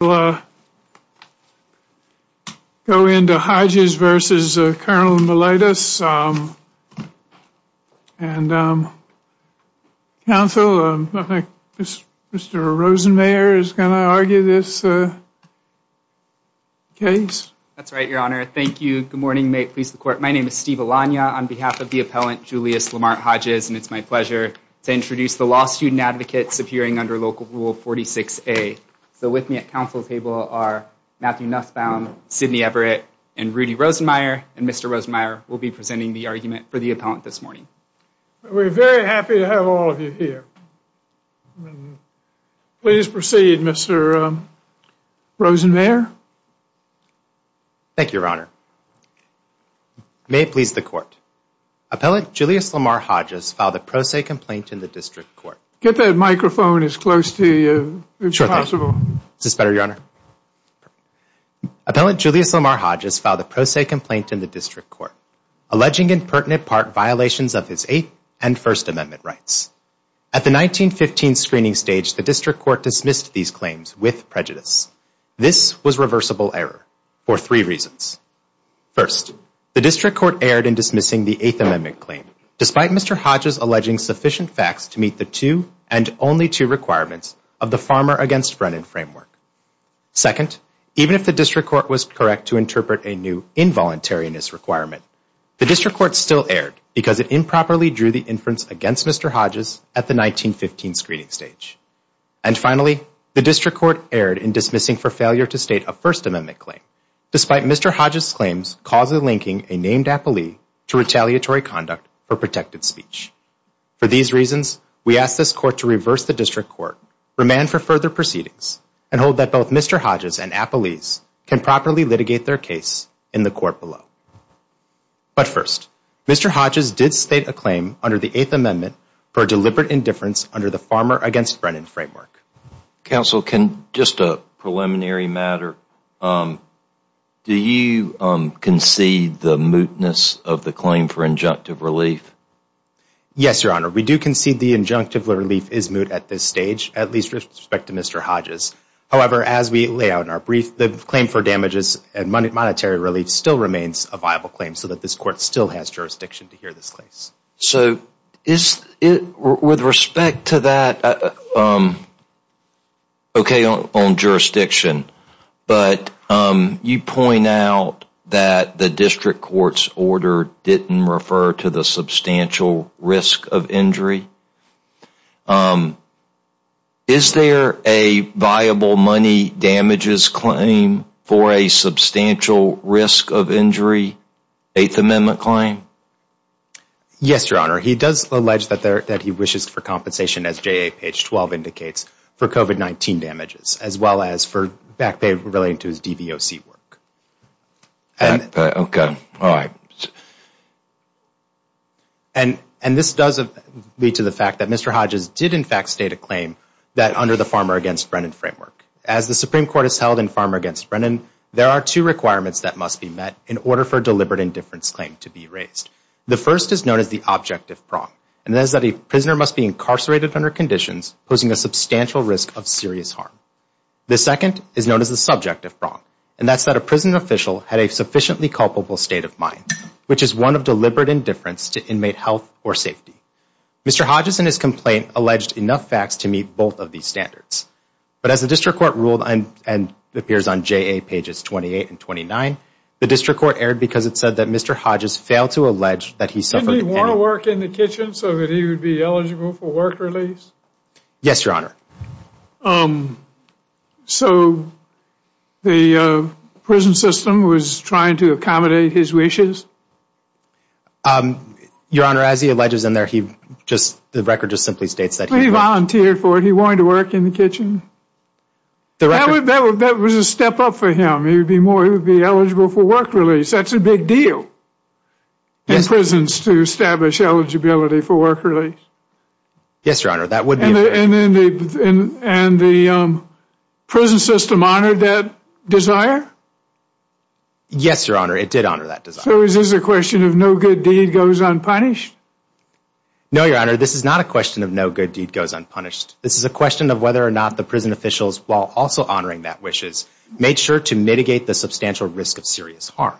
will go into Hodges v. Col. Meletis. Council, I think Mr. Rosenmayer is going to argue this case. That's right, Your Honor. Thank you. Good morning. May it please the Court. My name is Steve Alagna on behalf of the appellant Julius Lamart Hodges and it's my pleasure to introduce the law student advocates appearing under Local Rule 46A. So with me at Council table are Matthew Nussbaum, Sidney Everett, and Rudy Rosenmayer. And Mr. Rosenmayer will be presenting the argument for the appellant this morning. We're very happy to have all of you here. Please proceed, Mr. Rosenmayer. Thank you, Your Honor. May it please the Court. Appellant Julius Lamart Hodges filed a pro se complaint in the District Court. Get that Appellant Julius Lamart Hodges filed a pro se complaint in the District Court alleging in pertinent part violations of his Eighth and First Amendment rights. At the 1915 screening stage the District Court dismissed these claims with prejudice. This was reversible error for three reasons. First, the District Court erred in dismissing the Eighth Amendment claim despite Mr. Hodges alleging sufficient facts to meet the two and only two requirements of the Farmer against Brennan framework. Second, even if the District Court was correct to interpret a new involuntariness requirement, the District Court still erred because it improperly drew the inference against Mr. Hodges at the 1915 screening stage. And finally, the District Court erred in dismissing for failure to state a First Amendment claim despite Mr. Hodges' claims causally linking a named appellee to retaliatory conduct for protected speech. For these reasons, we ask this Court to reverse the District Court, remand for further proceedings, and hold that both Mr. Hodges and appellees can properly litigate their case in the Court below. But first, Mr. Hodges did state a claim under the Eighth Amendment for deliberate indifference under the Farmer against Brennan framework. Counsel can just a preliminary matter. Do you concede the mootness of the claim for damages? Yes, Your Honor. We do concede the injunctive relief is moot at this stage, at least with respect to Mr. Hodges. However, as we lay out in our brief, the claim for damages and monetary relief still remains a viable claim so that this Court still has jurisdiction to hear this case. So, with respect to that, okay, on jurisdiction, but you point out that the District Court's order didn't refer to the substantial risk of injury. Is there a viable money damages claim for a substantial risk of injury, Eighth Amendment claim? Yes, Your Honor. He does allege that he wishes for compensation, as JA page 12 indicates, for COVID-19 damages, as well as for back pay relating to his DVOC work. Okay. All right. And this does lead to the fact that Mr. Hodges did, in fact, state a claim that under the Farmer against Brennan framework. As the Supreme Court has held in Farmer against Brennan, there are two requirements that must be met in order for a deliberate indifference claim to be raised. The first is known as the objective prong, and that is that a prisoner must be risk of serious harm. The second is known as the subjective prong, and that's that a prison official had a sufficiently culpable state of mind, which is one of deliberate indifference to inmate health or safety. Mr. Hodges, in his complaint, alleged enough facts to meet both of these standards. But as the District Court ruled, and it appears on JA pages 28 and 29, the District Court erred because it said that Mr. Hodges failed to allege that he suffered... Didn't he want to work in the kitchen so that he would be eligible for work release? Yes, Your Honor. So the prison system was trying to accommodate his wishes? Your Honor, as he alleges in there, he just, the record just simply states that... He volunteered for it. He wanted to work in the kitchen. That was a step up for him. He would be more, he would be eligible for work release. That's a big deal in prisons to establish eligibility for work release. Yes, Your Honor, that would be... And the prison system honored that desire? Yes, Your Honor, it did honor that desire. So is this a question of no good deed goes unpunished? No, Your Honor, this is not a question of no good deed goes unpunished. This is a question of whether or not the prison officials, while also honoring that wishes, made sure to mitigate the substantial risk of serious harm.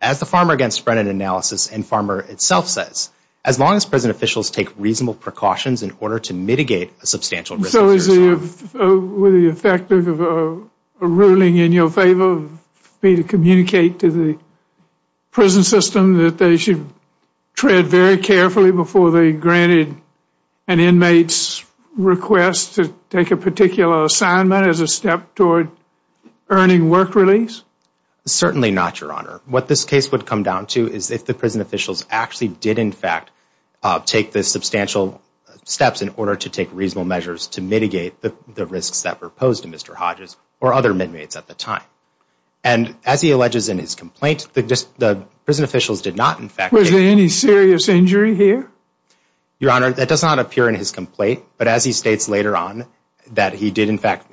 As the Farmer Against Brennan analysis and Farmer itself says, as long as prison officials take reasonable precautions in order to mitigate a substantial risk of serious harm. So is the effective ruling in your favor for me to communicate to the prison system that they should tread very carefully before they granted an inmate's request to take a particular assignment as a step toward earning work release? Certainly not, Your Honor. What this case would come down to is if the prison officials actually did, in fact, take the substantial steps in order to take reasonable measures to mitigate the risks that were posed to Mr. Hodges or other inmates at the time. And as he alleges in his complaint, the prison officials did not, in fact... Was there any serious injury here? Your Honor, that does not appear in his complaint, but as he states later on that he did, in fact,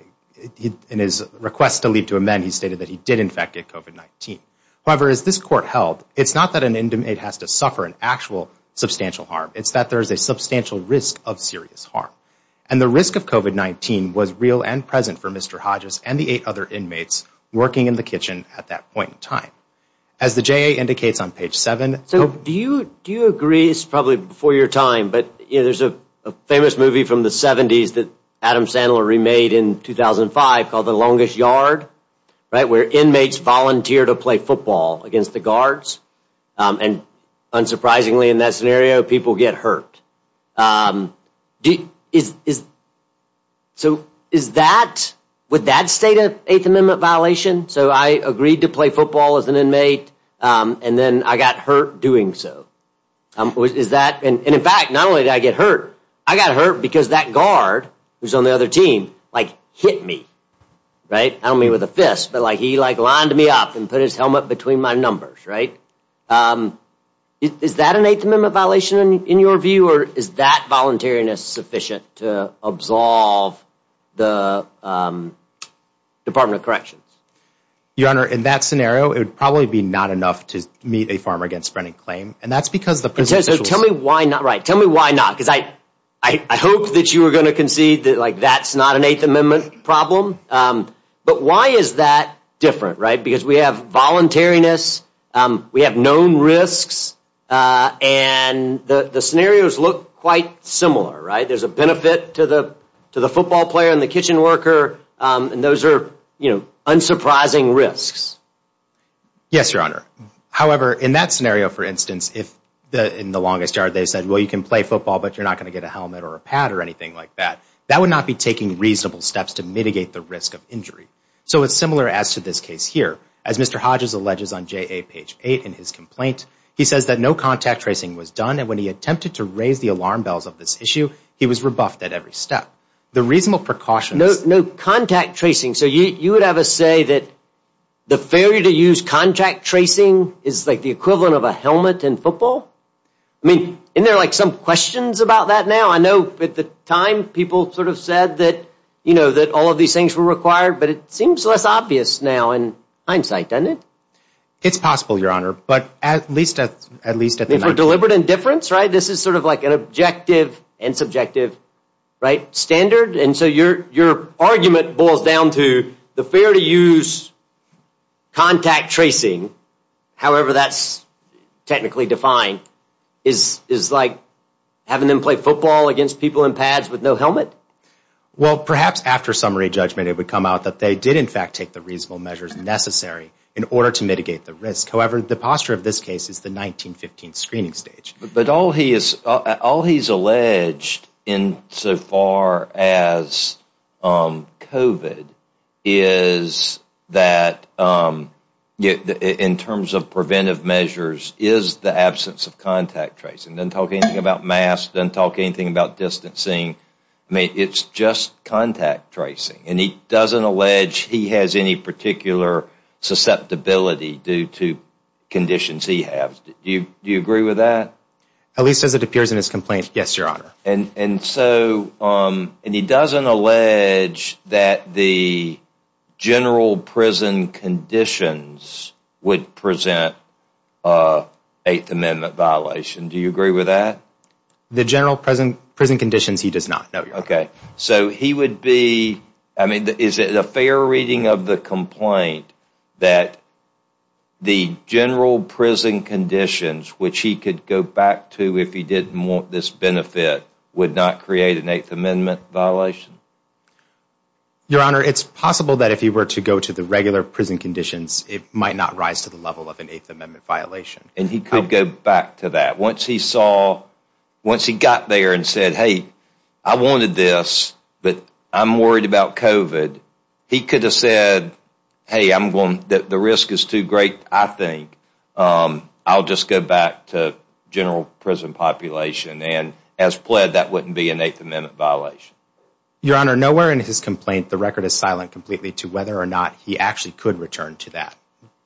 in his request to leave to amend, he stated that he did, in fact, get COVID-19. However, as this court held, it's not that an inmate has to suffer an actual substantial harm. It's that there is a substantial risk of serious harm. And the risk of COVID-19 was real and present for Mr. Hodges and the eight other inmates working in the kitchen at that point in time. As the J.A. indicates on page 7... So do you agree, this is probably before your time, but there's a famous movie from the 70s that Adam Sandler remade in 2005 called The Longest Yard, right, where inmates volunteer to play football against the guards. And unsurprisingly, in that scenario, people get hurt. So is that, would that state an Eighth Amendment violation? So I agreed to play football as an inmate and then I got hurt doing so. Is that... And in fact, not only did I get hurt, I got hurt because that guard who's on the other team, like hit me, right? I don't mean with a fist, but like he like lined me up and put his helmet between my numbers, right? Is that an Eighth Amendment violation in your view, or is that voluntariness sufficient to absolve the Department of Corrections? Your Honor, in that scenario, it would probably be not enough to meet a farmer against fronting claim. And that's because the presumption... Tell me why not, right. Tell me why not. I hope that you were going to concede that like that's not an Eighth Amendment problem. But why is that different, right? Because we have voluntariness, we have known risks, and the scenarios look quite similar, right? There's a benefit to the football player and the kitchen worker. And those are, you know, unsurprising risks. Yes, Your Honor. However, in that scenario, for instance, if in The Longest Yard, they said, well, you can play football, but you're not going to get a helmet or a pad or anything like that, that would not be taking reasonable steps to mitigate the risk of injury. So it's similar as to this case here. As Mr. Hodges alleges on JA page 8 in his complaint, he says that no contact tracing was done. And when he attempted to raise the alarm bells of this issue, he was rebuffed at every step. The reasonable precautions... No contact tracing. So you would have a say that the failure to use contact tracing is like the equivalent of a helmet in football? I mean, isn't there like some questions about that now? I know at the time people sort of said that, you know, that all of these things were required, but it seems less obvious now in hindsight, doesn't it? It's possible, Your Honor. But at least at the time... For deliberate indifference, right? This is sort of like an objective and subjective, right, standard. And so your argument boils down to the fear to use contact tracing, however that's technically defined, is like having them play football against people in pads with no helmet? Well, perhaps after summary judgment, it would come out that they did in fact take the reasonable measures necessary in order to mitigate the risk. However, the posture of this case is the 1915 screening stage. But all he's alleged in so far as COVID is that in terms of preventive measures is the absence of contact tracing. Doesn't talk anything about masks, doesn't talk anything about distancing. I mean, it's just contact tracing. And he doesn't allege he has any particular susceptibility due to conditions he has. Do you agree with that? At least as it appears in his complaint. Yes, Your Honor. And he doesn't allege that the general prison conditions would present an Eighth Amendment violation. Do you agree with that? The general prison conditions, he does not, no, Your Honor. Okay. So he would be... I mean, is it a fair reading of the complaint that the general prison conditions, which he could go back to if he didn't want this benefit, would not create an Eighth Amendment violation? Your Honor, it's possible that if he were to go to the regular prison conditions, it might not rise to the level of an Eighth Amendment violation. And he could go back to that. Once he saw... Once he got there and said, hey, I wanted this, but I'm worried about COVID, he could have said, hey, I'm going... The risk is too great, I think. I'll just go back to general prison population. And as pled, that wouldn't be an Eighth Amendment violation. Your Honor, nowhere in his complaint, the record is silent completely to whether or not he actually could return to that,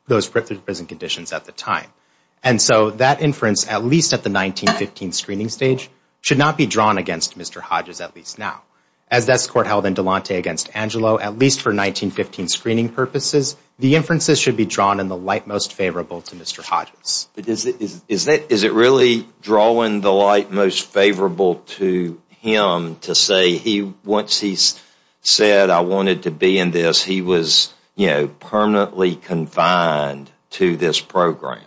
those prison conditions at the time. And so that inference, at least at the 1915 screening stage, should not be drawn against Mr. Hodges, at least now. As this court held in Delonte against Angelo, at least for 1915 screening purposes, the Mr. Hodges. Is it really drawing the light most favorable to him to say, once he said, I wanted to be in this, he was permanently confined to this program?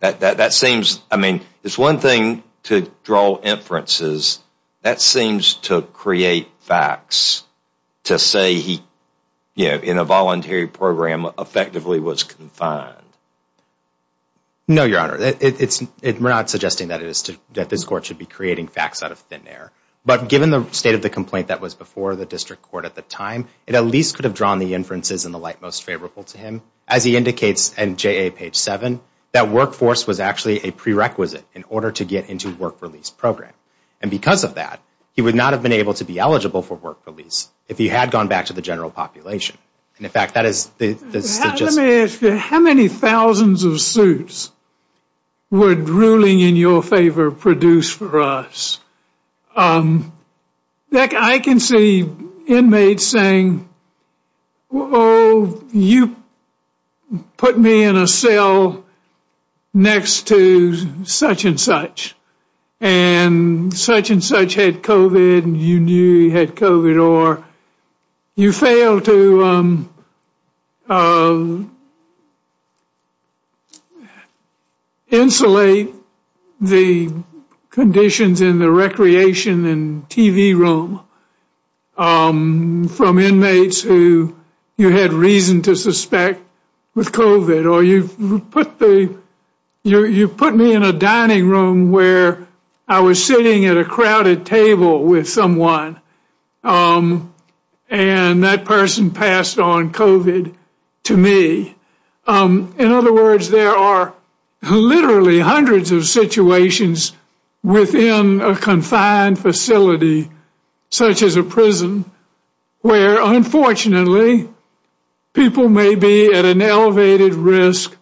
That seems... I mean, it's one thing to draw inferences. That seems to create facts to say he, in a voluntary program, effectively was confined. No, Your Honor, we're not suggesting that this court should be creating facts out of thin air. But given the state of the complaint that was before the district court at the time, it at least could have drawn the inferences in the light most favorable to him, as he indicates in JA page 7, that workforce was actually a prerequisite in order to get into work release program. And because of that, he would not have been able to be eligible for work release if he had gone back to the general population. And in fact, that is... Let me ask you, how many thousands of suits would ruling in your favor produce for us? I can see inmates saying, oh, you put me in a cell next to such and such, and such and such, and you insulate the conditions in the recreation and TV room from inmates who you had reason to suspect with COVID, or you put me in a dining room where I was sitting at a crowded table with someone. And that person passed on COVID to me. In other words, there are literally hundreds of situations within a confined facility, such as a prison, where unfortunately, people may be at an elevated risk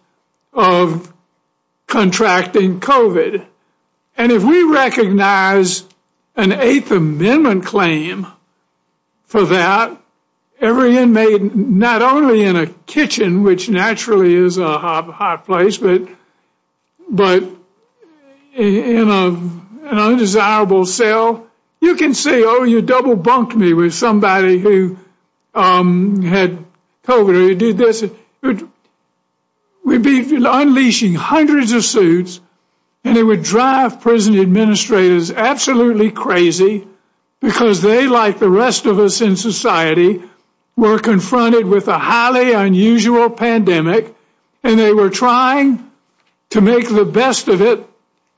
of contracting COVID. And if we recognize an Eighth Amendment claim for that, every inmate, not only in a kitchen, which naturally is a hot place, but in an undesirable cell, you can say, oh, you double bunked me with somebody who had COVID or did this. It would be unleashing hundreds of suits, and it would drive prison administrators absolutely crazy, because they, like the rest of us in society, were confronted with a highly unusual pandemic, and they were trying to make the best of it,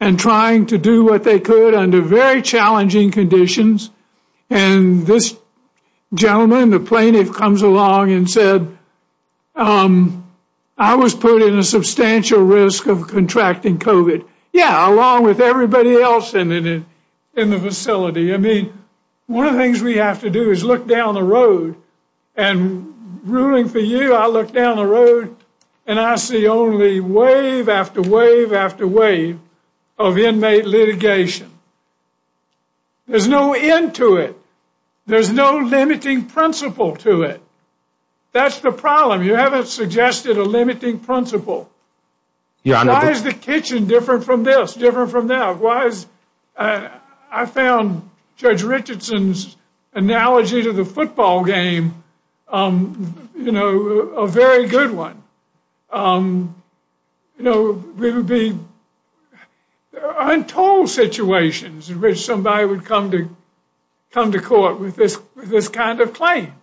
and trying to do what they could under very challenging conditions. And this gentleman, the plaintiff, comes along and said, I was put in a substantial risk of contracting COVID. Yeah, along with everybody else in the facility. I mean, one of the things we have to do is look down the road, and ruling for you, I look down the road, and I see only wave after wave after wave of inmate litigation. There's no end to it. There's no limiting principle to it. That's the problem. You haven't suggested a limiting principle. Why is the kitchen different from this, different from that? Why is, I found Judge Richardson's analogy to the football game, you know, a very good one. You know, there would be untold situations in which somebody would come to court with this kind of claim.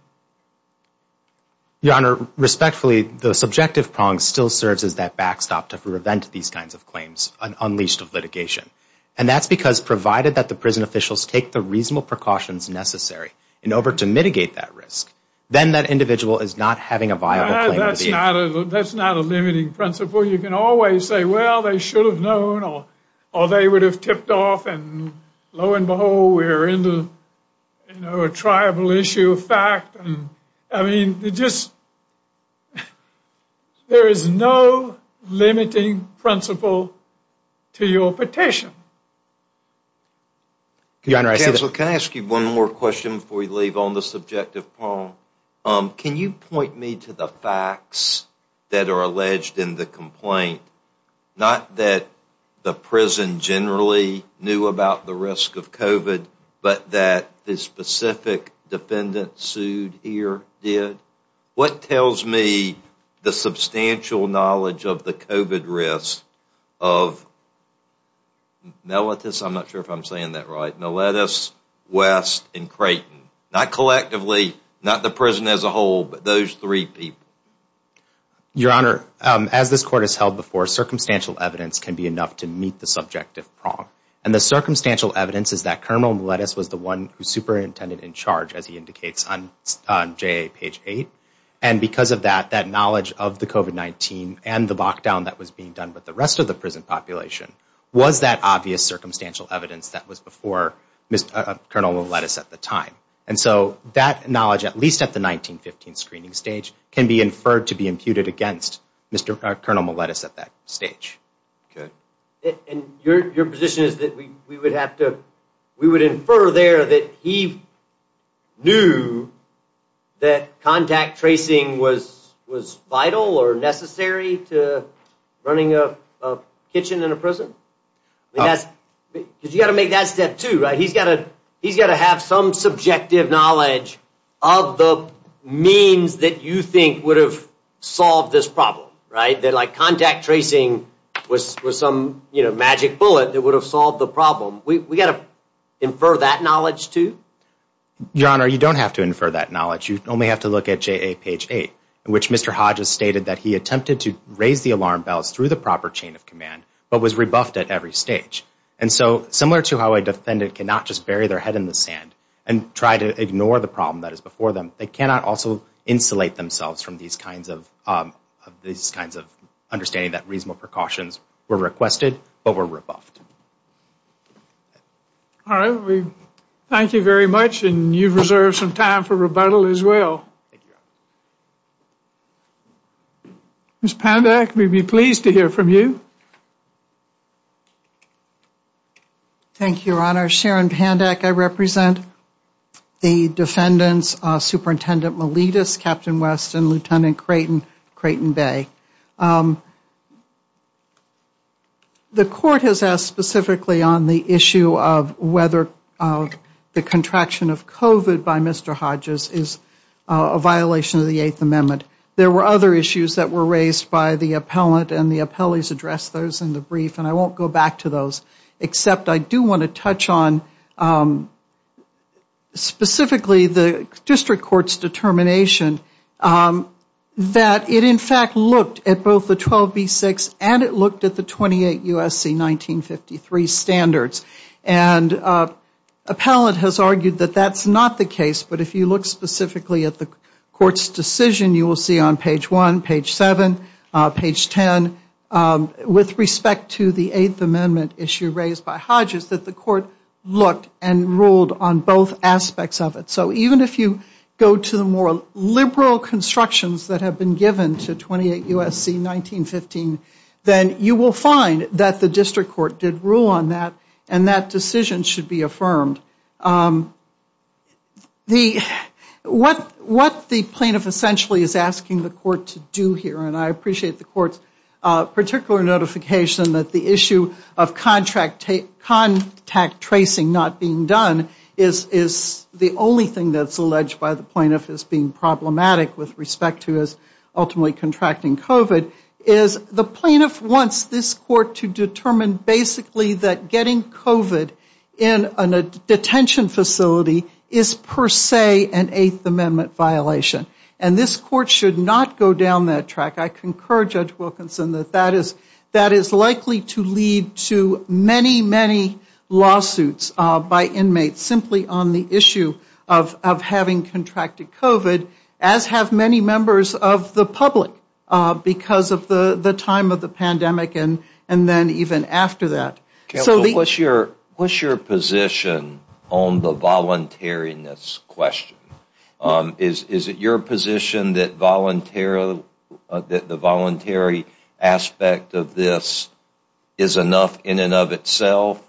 Your Honor, respectfully, the subjective prong still serves as that backstop to prevent these kinds of claims unleashed of litigation. And that's because, provided that the prison officials take the reasonable precautions necessary in order to mitigate that risk, then that individual is not having a viable claim. That's not a limiting principle. You can always say, well, they should have known, or they would have tipped off, and lo and behold, we're into, you know, a tribal issue of fact. I mean, it just, there is no limiting principle to your petition. Your Honor, I see that. Counsel, can I ask you one more question before you leave on the subjective prong? Can you point me to the facts that are alleged in the complaint? Not that the prison generally knew about the risk of COVID, but that the specific defendant sued here did? What tells me the substantial knowledge of the COVID risk of Mellitus, I'm not sure if I'm saying that right, Mellitus, West, and Creighton? Not collectively, not the prison as a whole, but those three people? Your Honor, as this Court has held before, circumstantial evidence can be enough to meet the subjective prong. And the circumstantial evidence is that Colonel Mellitus was the one who superintended in charge, as he indicates on JA page 8. And because of that, that knowledge of the COVID-19 and the lockdown that was being done with the rest of the prison population was that obvious circumstantial evidence that was before Colonel Mellitus at the time. And so that knowledge, at least at the 1915 screening stage, can be inferred to be imputed against Colonel Mellitus at that stage. Good. And your position is that we would have to, we would infer there that he knew that contact tracing was vital or necessary to running a kitchen in a prison? Because you've got to make that step too, right? He's got to have some subjective knowledge of the means that you think would have solved this problem, right? That contact tracing was some magic bullet that would have solved the problem. We've got to infer that knowledge too? Your Honor, you don't have to infer that knowledge. You only have to look at JA page 8, in which Mr. Hodges stated that he attempted to raise the alarm bells through the proper chain of command, but was rebuffed at every stage. And so, similar to how a defendant cannot just bury their head in the sand and try to ignore the problem that is before them, they cannot also insulate themselves from these kinds of understanding that reasonable precautions were requested, but were rebuffed. All right. Thank you very much. And you've reserved some time for rebuttal as well. Ms. Poundack, we'd be pleased to hear from you. Thank you, Your Honor. Sharon Poundack, I represent the defendants, Superintendent Miletus, Captain West, and Lieutenant Creighton, Creighton Bay. The court has asked specifically on the issue of whether the contraction of COVID by Mr. Hodges is a violation of the Eighth Amendment. There were other issues that were raised by the appellant, and the appellees addressed those in the brief. And I won't go back to those, except I do want to touch on specifically the district court's determination that it, in fact, looked at both the 12B-6 and it looked at the 28 U.S.C. 1953 standards. And appellant has argued that that's not the case. But if you look specifically at the court's decision, you will see on page 1, page 7, page 10, with respect to the Eighth Amendment issue raised by Hodges, that the court looked and ruled on both aspects of it. So even if you go to the more liberal constructions that have been given to 28 U.S.C. 1915, then you will find that the district court did rule on that, and that decision should be affirmed. What the plaintiff essentially is asking the court to do here, and I appreciate the court's particular notification that the issue of contact tracing not being done is the only thing that's alleged by the plaintiff as being problematic with respect to his ultimately contracting COVID, is the plaintiff wants this court to determine basically that getting COVID in a detention facility is per se an Eighth Amendment violation. And this court should not go down that track. I concur, Judge Wilkinson, that that is likely to lead to many, many lawsuits by inmates simply on the issue of having contracted COVID, as have many members of the public because of the time of the pandemic and then even after that. So what's your position on the voluntariness question? Is it your position that the voluntary aspect of this is enough in and of itself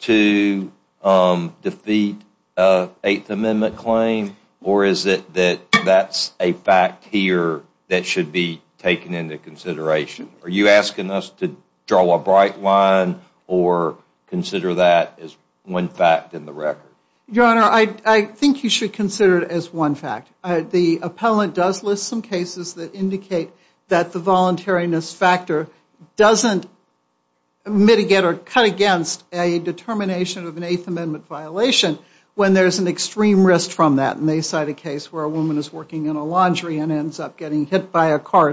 to defeat Eighth Amendment claim, or is it that that's a fact here that should be taken into consideration? Are you asking us to draw a bright line or consider that as one fact in the record? Your Honor, I think you should consider it as one fact. The appellant does list some cases that indicate that the voluntariness factor doesn't mitigate or cut against a determination of an Eighth Amendment violation when there's an extreme risk from that. And they cite a case where a woman is working in a laundry and ends up getting hit by a cart in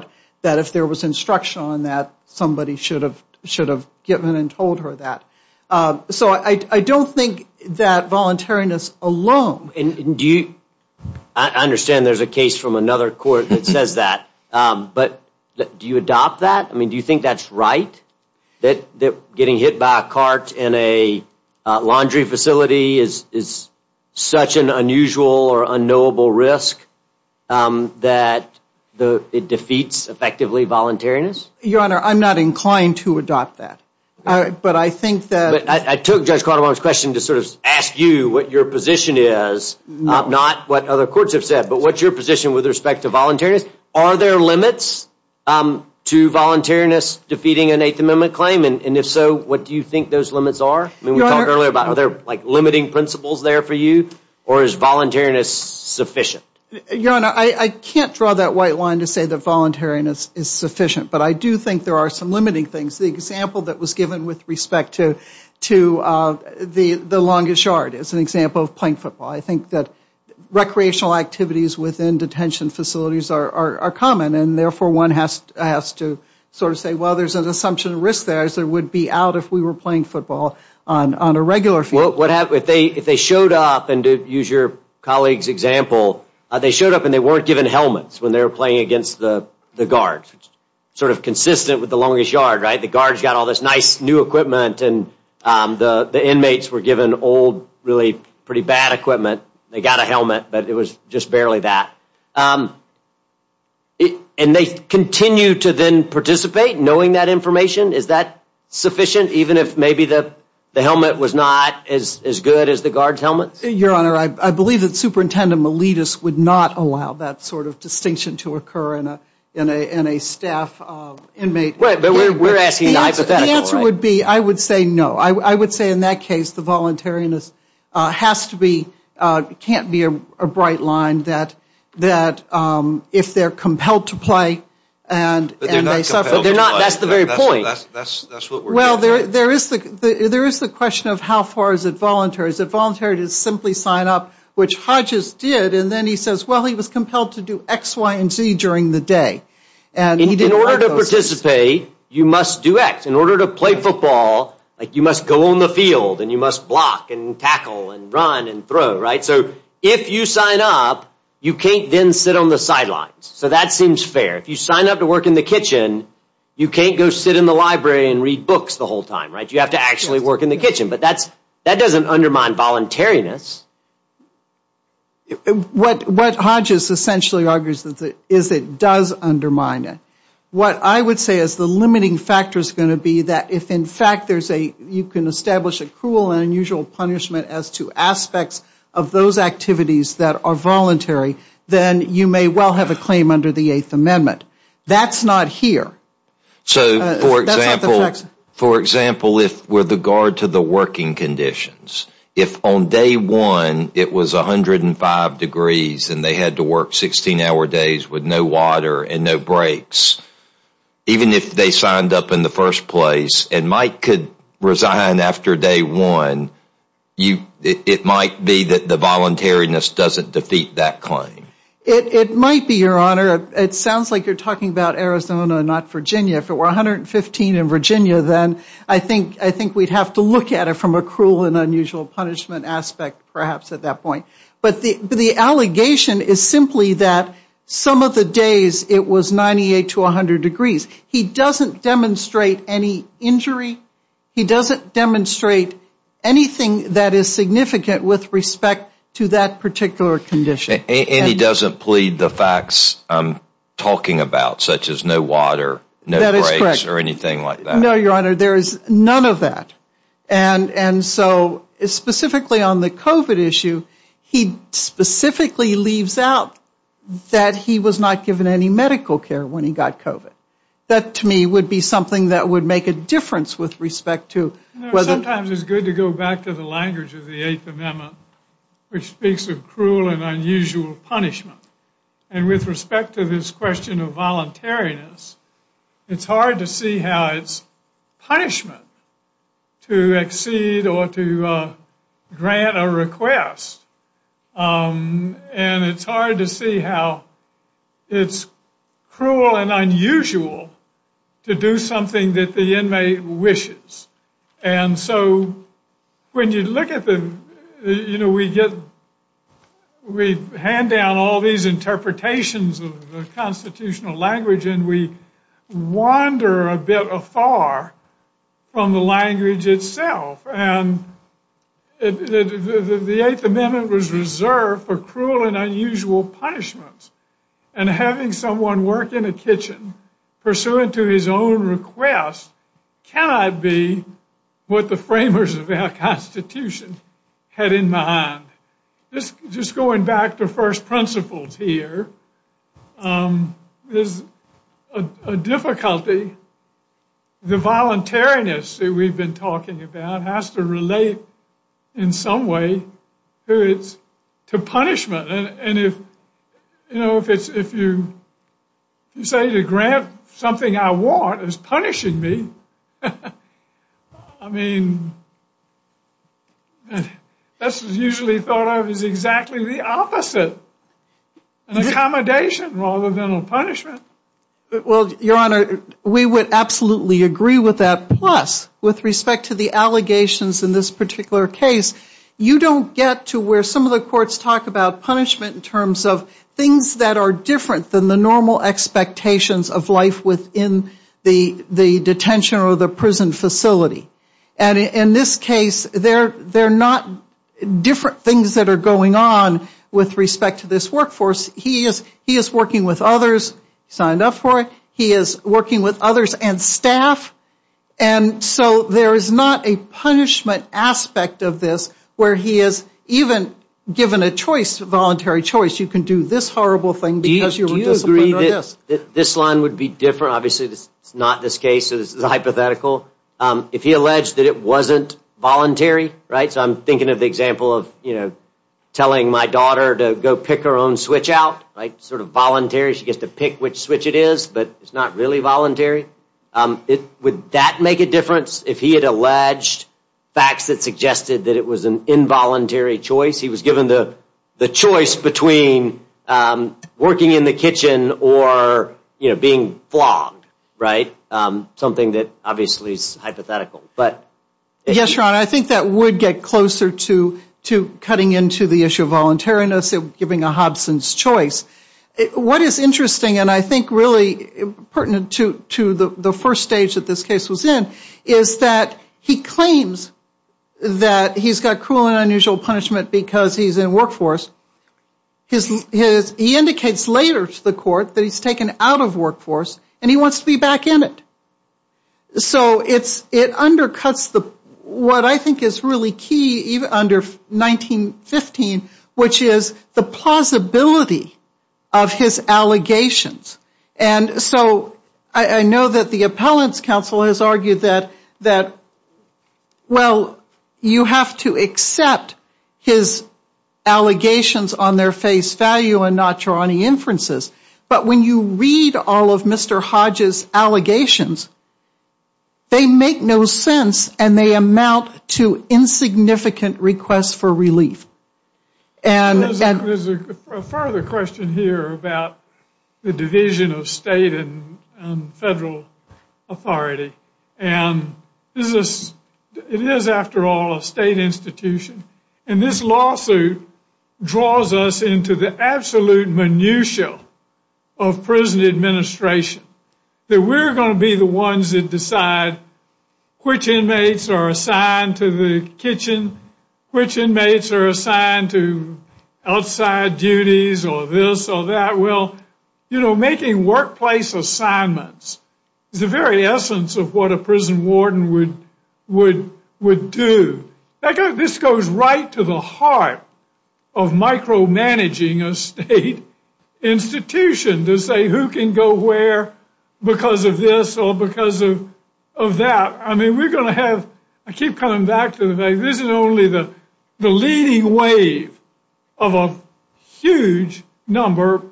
a laundry facility is such an unusual or unknowable risk that it defeats, effectively, voluntariness. Your Honor, I'm not inclined to adopt that. But I think that... I took Judge Caldwell's question to sort of ask you what your position is, not what other courts have said, but what's your position with respect to voluntariness? Are there limits to voluntariness defeating an Eighth Amendment claim? And if so, what do you think those limits are? I mean, we talked earlier about are there like limiting principles there for you or is voluntariness sufficient? Your Honor, I can't draw that white line to say that voluntariness is sufficient. But I do think there are some limiting things. The example that was given with respect to the longest shard is an example of playing football. I think that recreational activities within detention facilities are common and therefore one has to sort of say, well, there's an assumption of risk there as there would be out if we were playing football on a regular field. If they showed up, and to use your colleague's example, they showed up and they weren't given helmets when they were playing against the guards, sort of consistent with the longest yard, right? The guards got all this nice new equipment and the inmates were given old, really pretty bad equipment. They got a helmet, but it was just barely that. And they continue to then participate knowing that information? Is that sufficient even if maybe the helmet was not as good as the guards' helmets? Your Honor, I believe that Superintendent Miletus would not allow that sort of distinction to occur in a staff inmate. Right, but we're asking hypothetical, right? The answer would be I would say no. I would say in that case the voluntariness has to be, can't be a bright line that if they're compelled to play and they suffer. But they're not compelled to play. That's the very point. Well, there is the question of how far is it voluntary? Is it voluntary to simply sign up, which Hodges did, and then he says, well, he was compelled to do X, Y, and Z during the day. In order to participate, you must do X. In order to play football, you must go on the field and you must block and tackle and run and throw, right? So if you sign up, you can't then sit on the sidelines. So that seems fair. If you sign up to work in the kitchen, you can't go sit in the library and read books the whole time, right? You have to actually work in the kitchen. But that doesn't undermine voluntariness. What Hodges essentially argues is it does undermine it. What I would say is the limiting factor is going to be that if in fact you can establish a cruel and unusual punishment as to aspects of those activities that are voluntary, then you may well have a claim under the Eighth Amendment. That's not here. So for example, if with regard to the working conditions, if on day one it was 105 degrees and they had to work 16-hour days with no water and no breaks, even if they signed up in the first place and Mike could resign after day one, it might be that the voluntariness doesn't defeat that claim. It might be, Your Honor. It sounds like you're talking about Arizona, not Virginia. If it were 115 in Virginia, then I think we'd have to look at it from a cruel and unusual punishment aspect perhaps at that point. But the allegation is simply that some of the days it was 98 to 100 degrees. He doesn't demonstrate any injury. He doesn't demonstrate anything that is significant with respect to that particular condition. And he doesn't plead the facts I'm talking about, such as no water, no breaks, or anything like that. No, Your Honor. There is none of that. And so specifically on the COVID issue, he specifically leaves out that he was not given any medical care when he got COVID. That to me would be something that would make a difference with respect to whether— You know, sometimes it's good to go back to the language of the Eighth Amendment, which speaks of cruel and unusual punishment. And with respect to this question of voluntariness, it's hard to see how it's punishment to exceed or to grant a request. And it's hard to see how it's cruel and unusual to do something that the inmate wishes. And so when you look at the—you know, we hand down all these interpretations of the constitutional language, and we wander a bit afar from the language itself. And the Eighth Amendment was reserved for cruel and unusual punishments. And having someone work in a kitchen pursuant to his own request cannot be what the framers of our Constitution had in mind. Just going back to first principles here, there's a difficulty. The voluntariness that we've been talking about has to relate in some way to punishment. And if, you know, if you say to grant something I want as punishing me, I mean, that's usually thought of as exactly the opposite, an accommodation rather than a punishment. Well, Your Honor, we would absolutely agree with that. Plus, with respect to the allegations in this particular case, you don't get to where some of the courts talk about punishment in terms of things that are different than the normal expectations of life within the detention or the prison facility. And in this case, they're not different things that are going on with respect to this workforce. He is working with others, signed up for it. He is working with others and staff. And so there is not a punishment aspect of this where he is even given a choice, a voluntary choice, you can do this horrible thing because you were disciplined or this. Do you agree that this line would be different? Obviously, it's not this case. So this is hypothetical. If he alleged that it wasn't voluntary, right? So I'm thinking of the example of, you know, telling my daughter to go pick her own switch out, right? Sort of voluntary. She gets to pick which switch it is, but it's not really voluntary. It would that make a difference if he had alleged facts that suggested that it was an involuntary choice? He was given the choice between working in the kitchen or, you know, being flogged, right? Something that obviously is hypothetical, but. Yes, Ron, I think that would get closer to cutting into the issue of voluntariness and giving a Hobson's choice. What is interesting and I think really pertinent to the first stage that this case was in is that he claims that he's got cruel and unusual punishment because he's in workforce. He indicates later to the court that he's taken out of workforce and he wants to be back in it. So it's it undercuts the what I think is really key even under 1915, which is the plausibility of his allegations. And so I know that the appellant's counsel has argued that that. Well, you have to accept his allegations on their face value and not draw any inferences. But when you read all of Mr. Hodge's allegations, they make no sense and they amount to insignificant requests for relief. And there's a further question here about the division of state and federal authority. And this is it is, after all, a state institution. And this lawsuit draws us into the absolute minutia of prison administration that we're going to be the ones that decide which inmates are assigned to the kitchen, which inmates are assigned to outside duties or this or that. Well, you know, making workplace assignments is the very essence of what a prison warden would would would do. This goes right to the heart of micromanaging a state institution to say who can go where because of this or because of of that. I mean, we're going to have I keep coming back to this is only the the leading wave of a huge number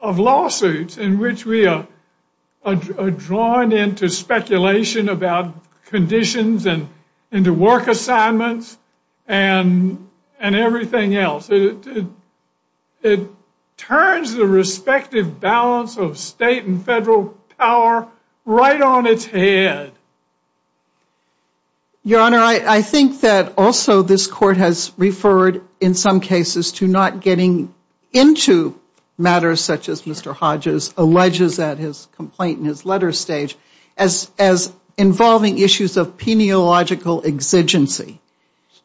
of lawsuits in which we are drawn into speculation about conditions and to work assignments and and everything else. It turns the respective balance of state and federal power right on its head. Your Honor, I think that also this court has referred in some cases to not getting into matters such as Mr. Hodges alleges that his complaint in his letter stage as as involving issues of peniological exigency.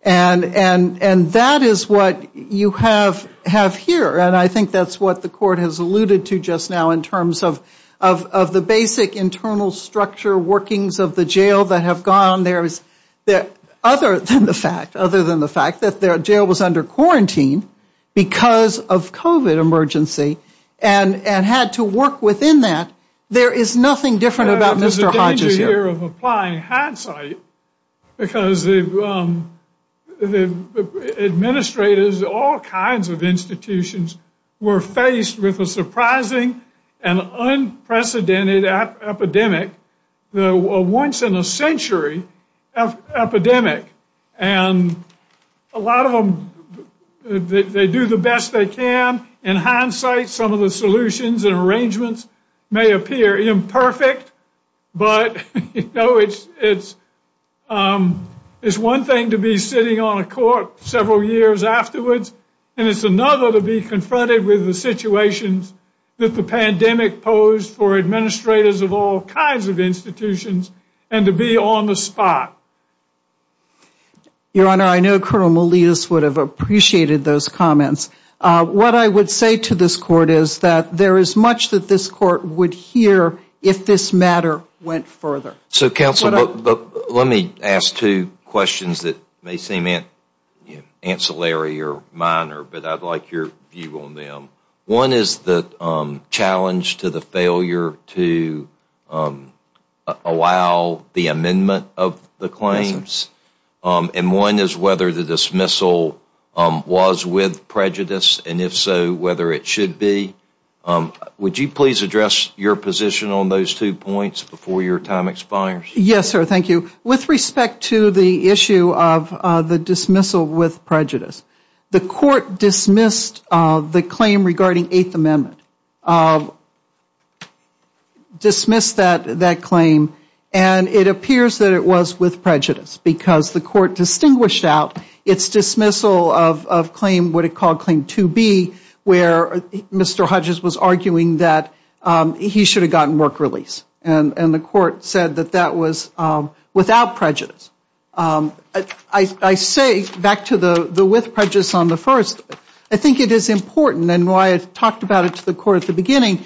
And and and that is what you have have here. And I think that's what the court has alluded to just now in terms of of of the basic internal structure workings of the jail that have gone. There is that other than the fact other than the fact that their jail was under quarantine because of covid emergency and and had to work within that. There is nothing different about Mr. Hodges here of applying hindsight because the administrators, all kinds of institutions were faced with a surprising and unprecedented epidemic, the once in a century epidemic. And a lot of them, they do the best they can. In hindsight, some of the solutions and arrangements may appear imperfect, but it's it's one thing to be sitting on a court several years afterwards, and it's another to be confronted with the situations that the pandemic posed for administrators of all kinds of institutions and to be on the spot. Your Honor, I know Colonel Malias would have appreciated those comments. What I would say to this court is that there is much that this court would hear if this matter went further. So counsel, let me ask two questions that may seem ancillary or minor, but I'd like your view on them. One is the challenge to the failure to allow the amendment of the claims. And one is whether the dismissal was with prejudice, and if so, whether it should be. Would you please address your position on those two points before your time expires? Yes, sir, thank you. With respect to the issue of the dismissal with prejudice, the court dismissed the claim regarding Eighth Amendment, dismissed that claim, and it appears that it was with prejudice. The court distinguished out its dismissal of what it called Claim 2B, where Mr. Hodges was arguing that he should have gotten work release. The court said that that was without prejudice. I say, back to the with prejudice on the first, I think it is important, and why I talked about it, that Claim 2B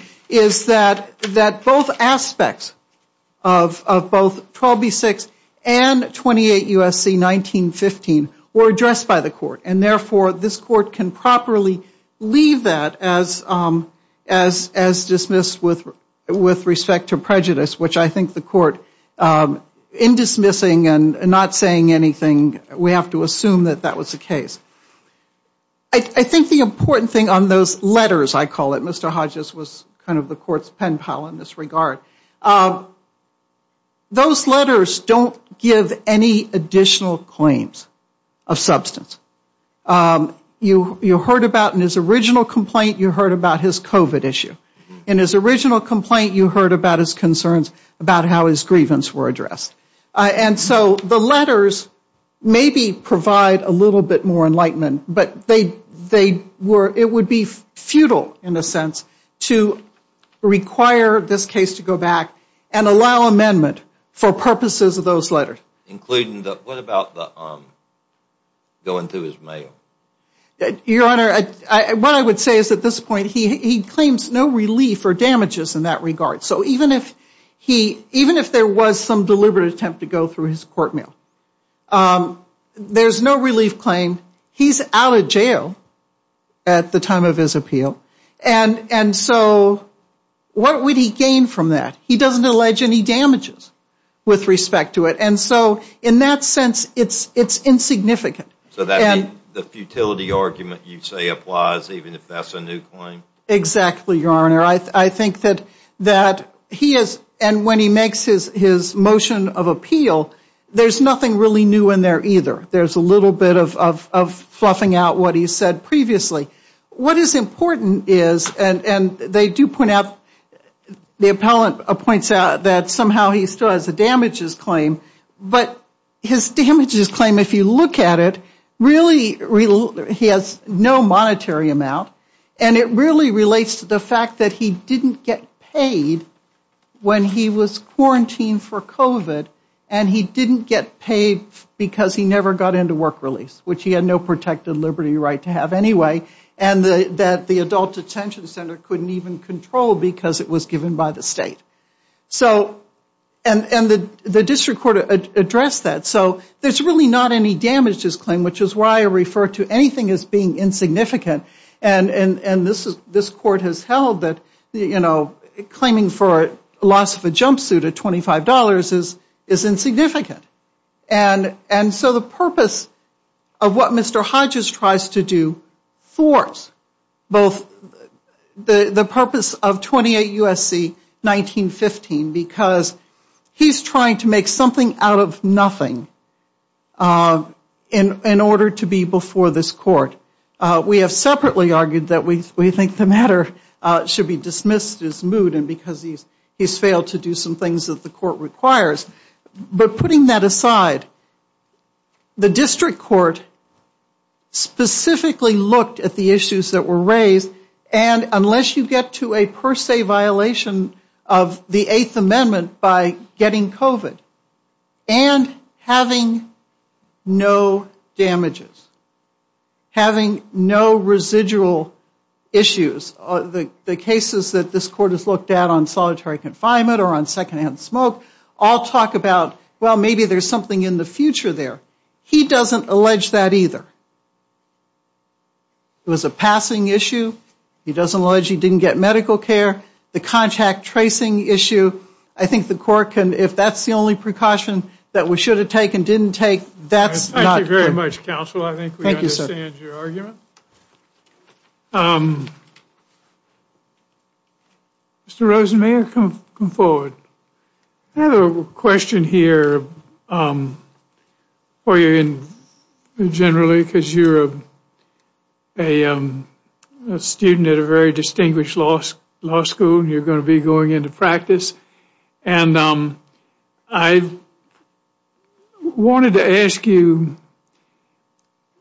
and 28 U.S.C. 1915 were addressed by the court. And therefore, this court can properly leave that as dismissed with respect to prejudice, which I think the court, in dismissing and not saying anything, we have to assume that that was the case. I think the important thing on those letters, I call it, Mr. Hodges was kind of the court's pen pal in this regard. Those letters don't give any additional claims of substance. You heard about in his original complaint, you heard about his COVID issue. In his original complaint, you heard about his concerns about how his grievance were addressed. And so the letters maybe provide a little bit more enlightenment, but it would be futile in a sense to require this case to go back and allow amendment for purposes of those letters. Including, what about going through his mail? Your Honor, what I would say is at this point, he claims no relief or damages in that regard. So even if there was some deliberate attempt to go through his court mail, there's no relief claim. He's out of jail at the time of his appeal. And so what would he gain from that? He doesn't allege any damages with respect to it. And so in that sense, it's insignificant. So the futility argument you say applies even if that's a new claim? Exactly, Your Honor. I think that he is, and when he makes his motion of appeal, there's nothing really new in there either. There's a little bit of fluffing out what he said previously. What is important is, and they do point out, the appellant points out that somehow he still has a damages claim. But his damages claim, if you look at it, really, he has no monetary amount. And it really relates to the fact that he didn't get paid when he was quarantined for work release, which he had no protected liberty right to have anyway, and that the adult detention center couldn't even control because it was given by the state. So, and the district court addressed that. So there's really not any damages claim, which is why I refer to anything as being insignificant. And this court has held that, you know, claiming for loss of a jumpsuit at $25 is insignificant. And so the purpose of what Mr. Hodges tries to do thwarts both the purpose of 28 U.S.C. 1915, because he's trying to make something out of nothing in order to be before this court. We have separately argued that we think the matter should be dismissed as moot, and because he's failed to do some things that the court requires. But putting that aside, the district court specifically looked at the issues that were raised. And unless you get to a per se violation of the Eighth Amendment by getting COVID and having no damages, having no residual issues, the cases that this court has looked at on well, maybe there's something in the future there. He doesn't allege that either. It was a passing issue. He doesn't allege he didn't get medical care. The contact tracing issue, I think the court can, if that's the only precaution that we should have taken, didn't take, that's not. Thank you very much, counsel. I think we understand your argument. Mr. Rosen, may I come forward? I have a question here for you generally, because you're a student at a very distinguished law school, and you're going to be going into practice. And I wanted to ask you,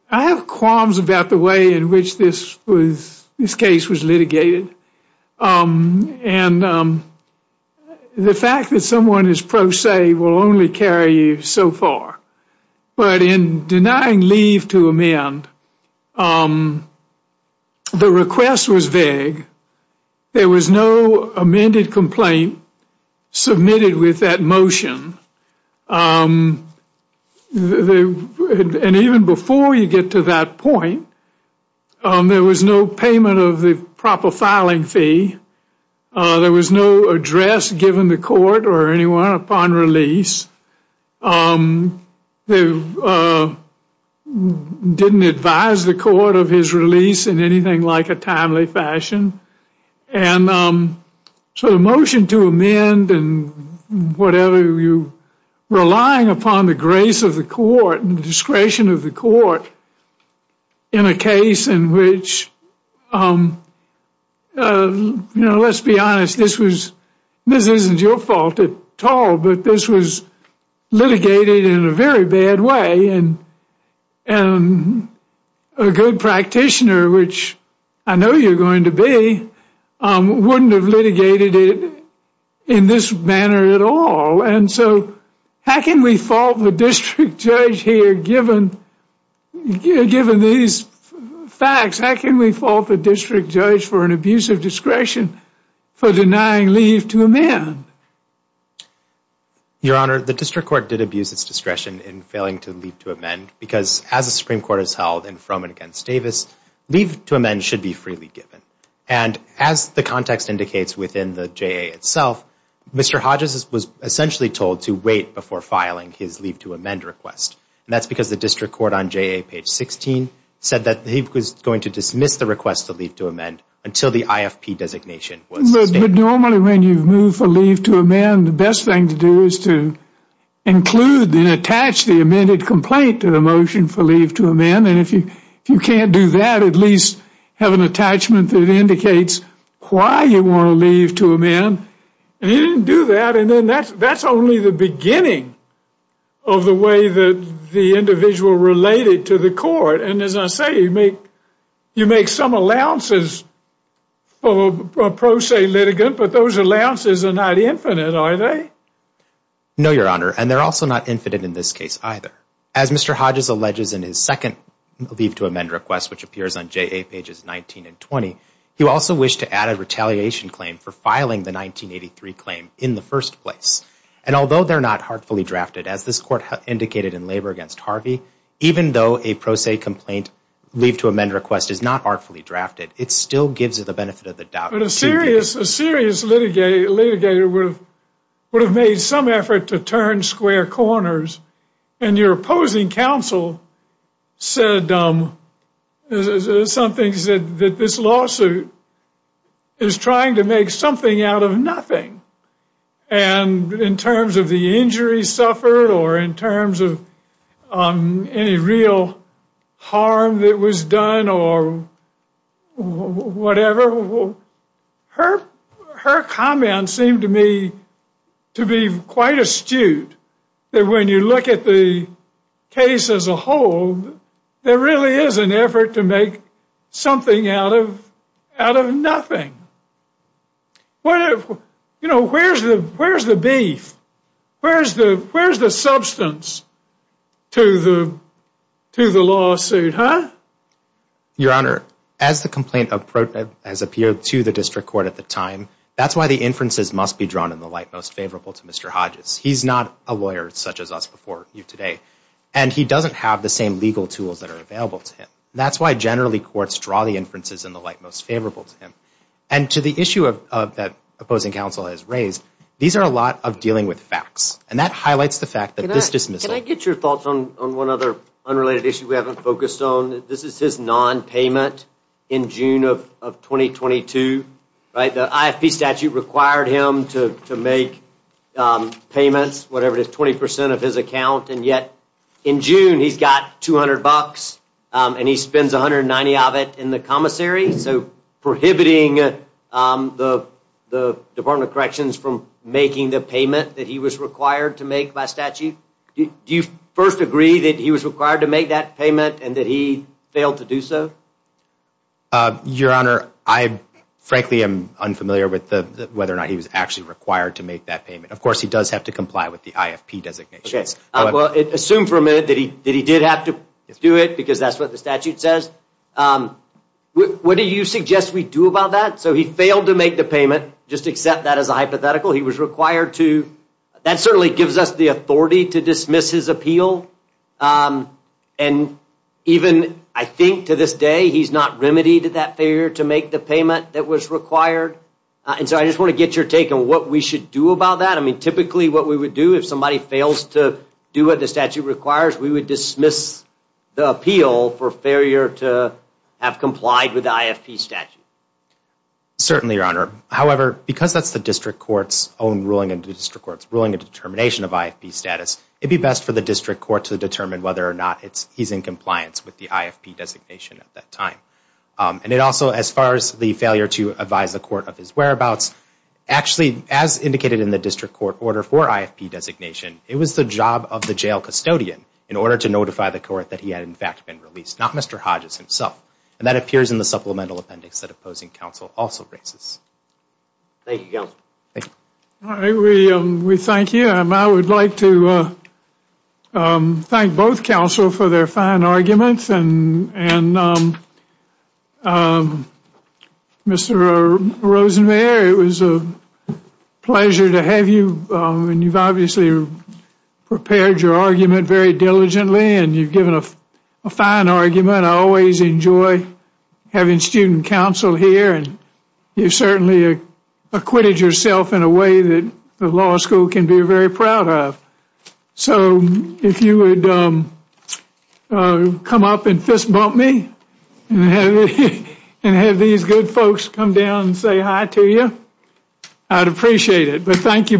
I have qualms about the way in which this case was litigated. And the fact that someone is pro se will only carry you so far. But in denying leave to amend, the request was vague. There was no amended complaint submitted with that motion. And even before you get to that point, there was no payment of the proper filing fee. There was no address given the court or anyone upon release. They didn't advise the court of his release in anything like a timely fashion. And so the motion to amend and whatever, you're relying upon the grace of the court and the discretion of the court in a case in which, you know, let's be honest, this was, this isn't your fault at all, but this was litigated in a very bad way. And a good practitioner, which I know you're going to be, wouldn't have litigated it in this manner at all. And so how can we fault the district judge here, given these facts? How can we fault the district judge for an abuse of discretion for denying leave to amend? Your Honor, the district court did abuse its discretion in failing to leave to amend because as the Supreme Court has held in Froman against Davis, leave to amend should be freely given. And as the context indicates within the JA itself, Mr. Hodges was essentially told to wait before filing his leave to amend request. And that's because the district court on JA page 16 said that he was going to dismiss the request to leave to amend until the IFP designation was stated. But normally when you've moved for leave to amend, the best thing to do is to include and attach the amended complaint to the motion for leave to amend. And if you can't do that, at least have an attachment that indicates why you want to leave to amend. And he didn't do that. And then that's only the beginning of the way that the individual related to the court. And as I say, you make some allowances for a pro se litigant, but those allowances are not infinite, are they? No, Your Honor. And they're also not infinite in this case either. As Mr. Hodges alleges in his second leave to amend request, which appears on JA pages 19 and 20, he also wished to add a retaliation claim for filing the 1983 claim in the first place. And although they're not heartfully drafted, as this court indicated in labor against Harvey, even though a pro se complaint leave to amend request is not artfully drafted, it still gives it the benefit of the doubt. But a serious litigator would have made some effort to turn square corners. And your opposing counsel said some things that this lawsuit is trying to make something out of nothing. And in terms of the injury suffered or in terms of any real harm that was done or whatever, her comments seem to me to be quite astute. That when you look at the case as a whole, there really is an effort to make something out of nothing. You know, where's the beef? Where's the substance to the lawsuit, huh? Your Honor, as the complaint has appeared to the district court at the time, that's why the inferences must be drawn in the light most favorable to Mr. Hodges. He's not a lawyer such as us before you today. And he doesn't have the same legal tools that are available to him. That's why generally courts draw the inferences in the light most favorable to him. And to the issue that opposing counsel has raised, these are a lot of dealing with facts. And that highlights the fact that this dismissal Can I get your thoughts on one other unrelated issue we haven't focused on? This is his nonpayment in June of 2022, right? The IFP statute required him to make payments, whatever it is, 20% of his account. And yet in June, he's got $200 and he spends $190 of it in the commissary. So prohibiting the Department of Corrections from making the payment that he was required to make by statute. Do you first agree that he was required to make that payment and that he failed to do so? Your Honor, I frankly am unfamiliar with whether or not he was actually required to make that payment. Of course, he does have to comply with the IFP designation. Well, assume for a minute that he did have to do it because that's what the statute says. Um, what do you suggest we do about that? So he failed to make the payment. Just accept that as a hypothetical. He was required to. That certainly gives us the authority to dismiss his appeal. And even I think to this day, he's not remedied that failure to make the payment that was required. And so I just want to get your take on what we should do about that. I mean, typically what we would do if somebody fails to do what the statute requires, we would dismiss the appeal for failure to have complied with the IFP statute. Certainly, Your Honor. However, because that's the district court's own ruling and the district court's ruling and determination of IFP status, it'd be best for the district court to determine whether or not he's in compliance with the IFP designation at that time. And it also, as far as the failure to advise the court of his whereabouts, actually, as indicated in the district court order for IFP designation, it was the job of the jail custodian in order to notify the court that he had, in fact, been released, not Mr. Hodges himself. And that appears in the supplemental appendix that opposing counsel also raises. Thank you, Counselor. Thank you. All right. We thank you. I would like to thank both counsel for their fine arguments. And Mr. Rosenmayer, it was a pleasure to have you. And you've obviously prepared your argument very diligently and you've given a fine argument. I always enjoy having student counsel here. And you certainly acquitted yourself in a way that the law school can be very proud of. So if you would come up and fist bump me and have these good folks come down and say hi to you, I'd appreciate it. Thank you both.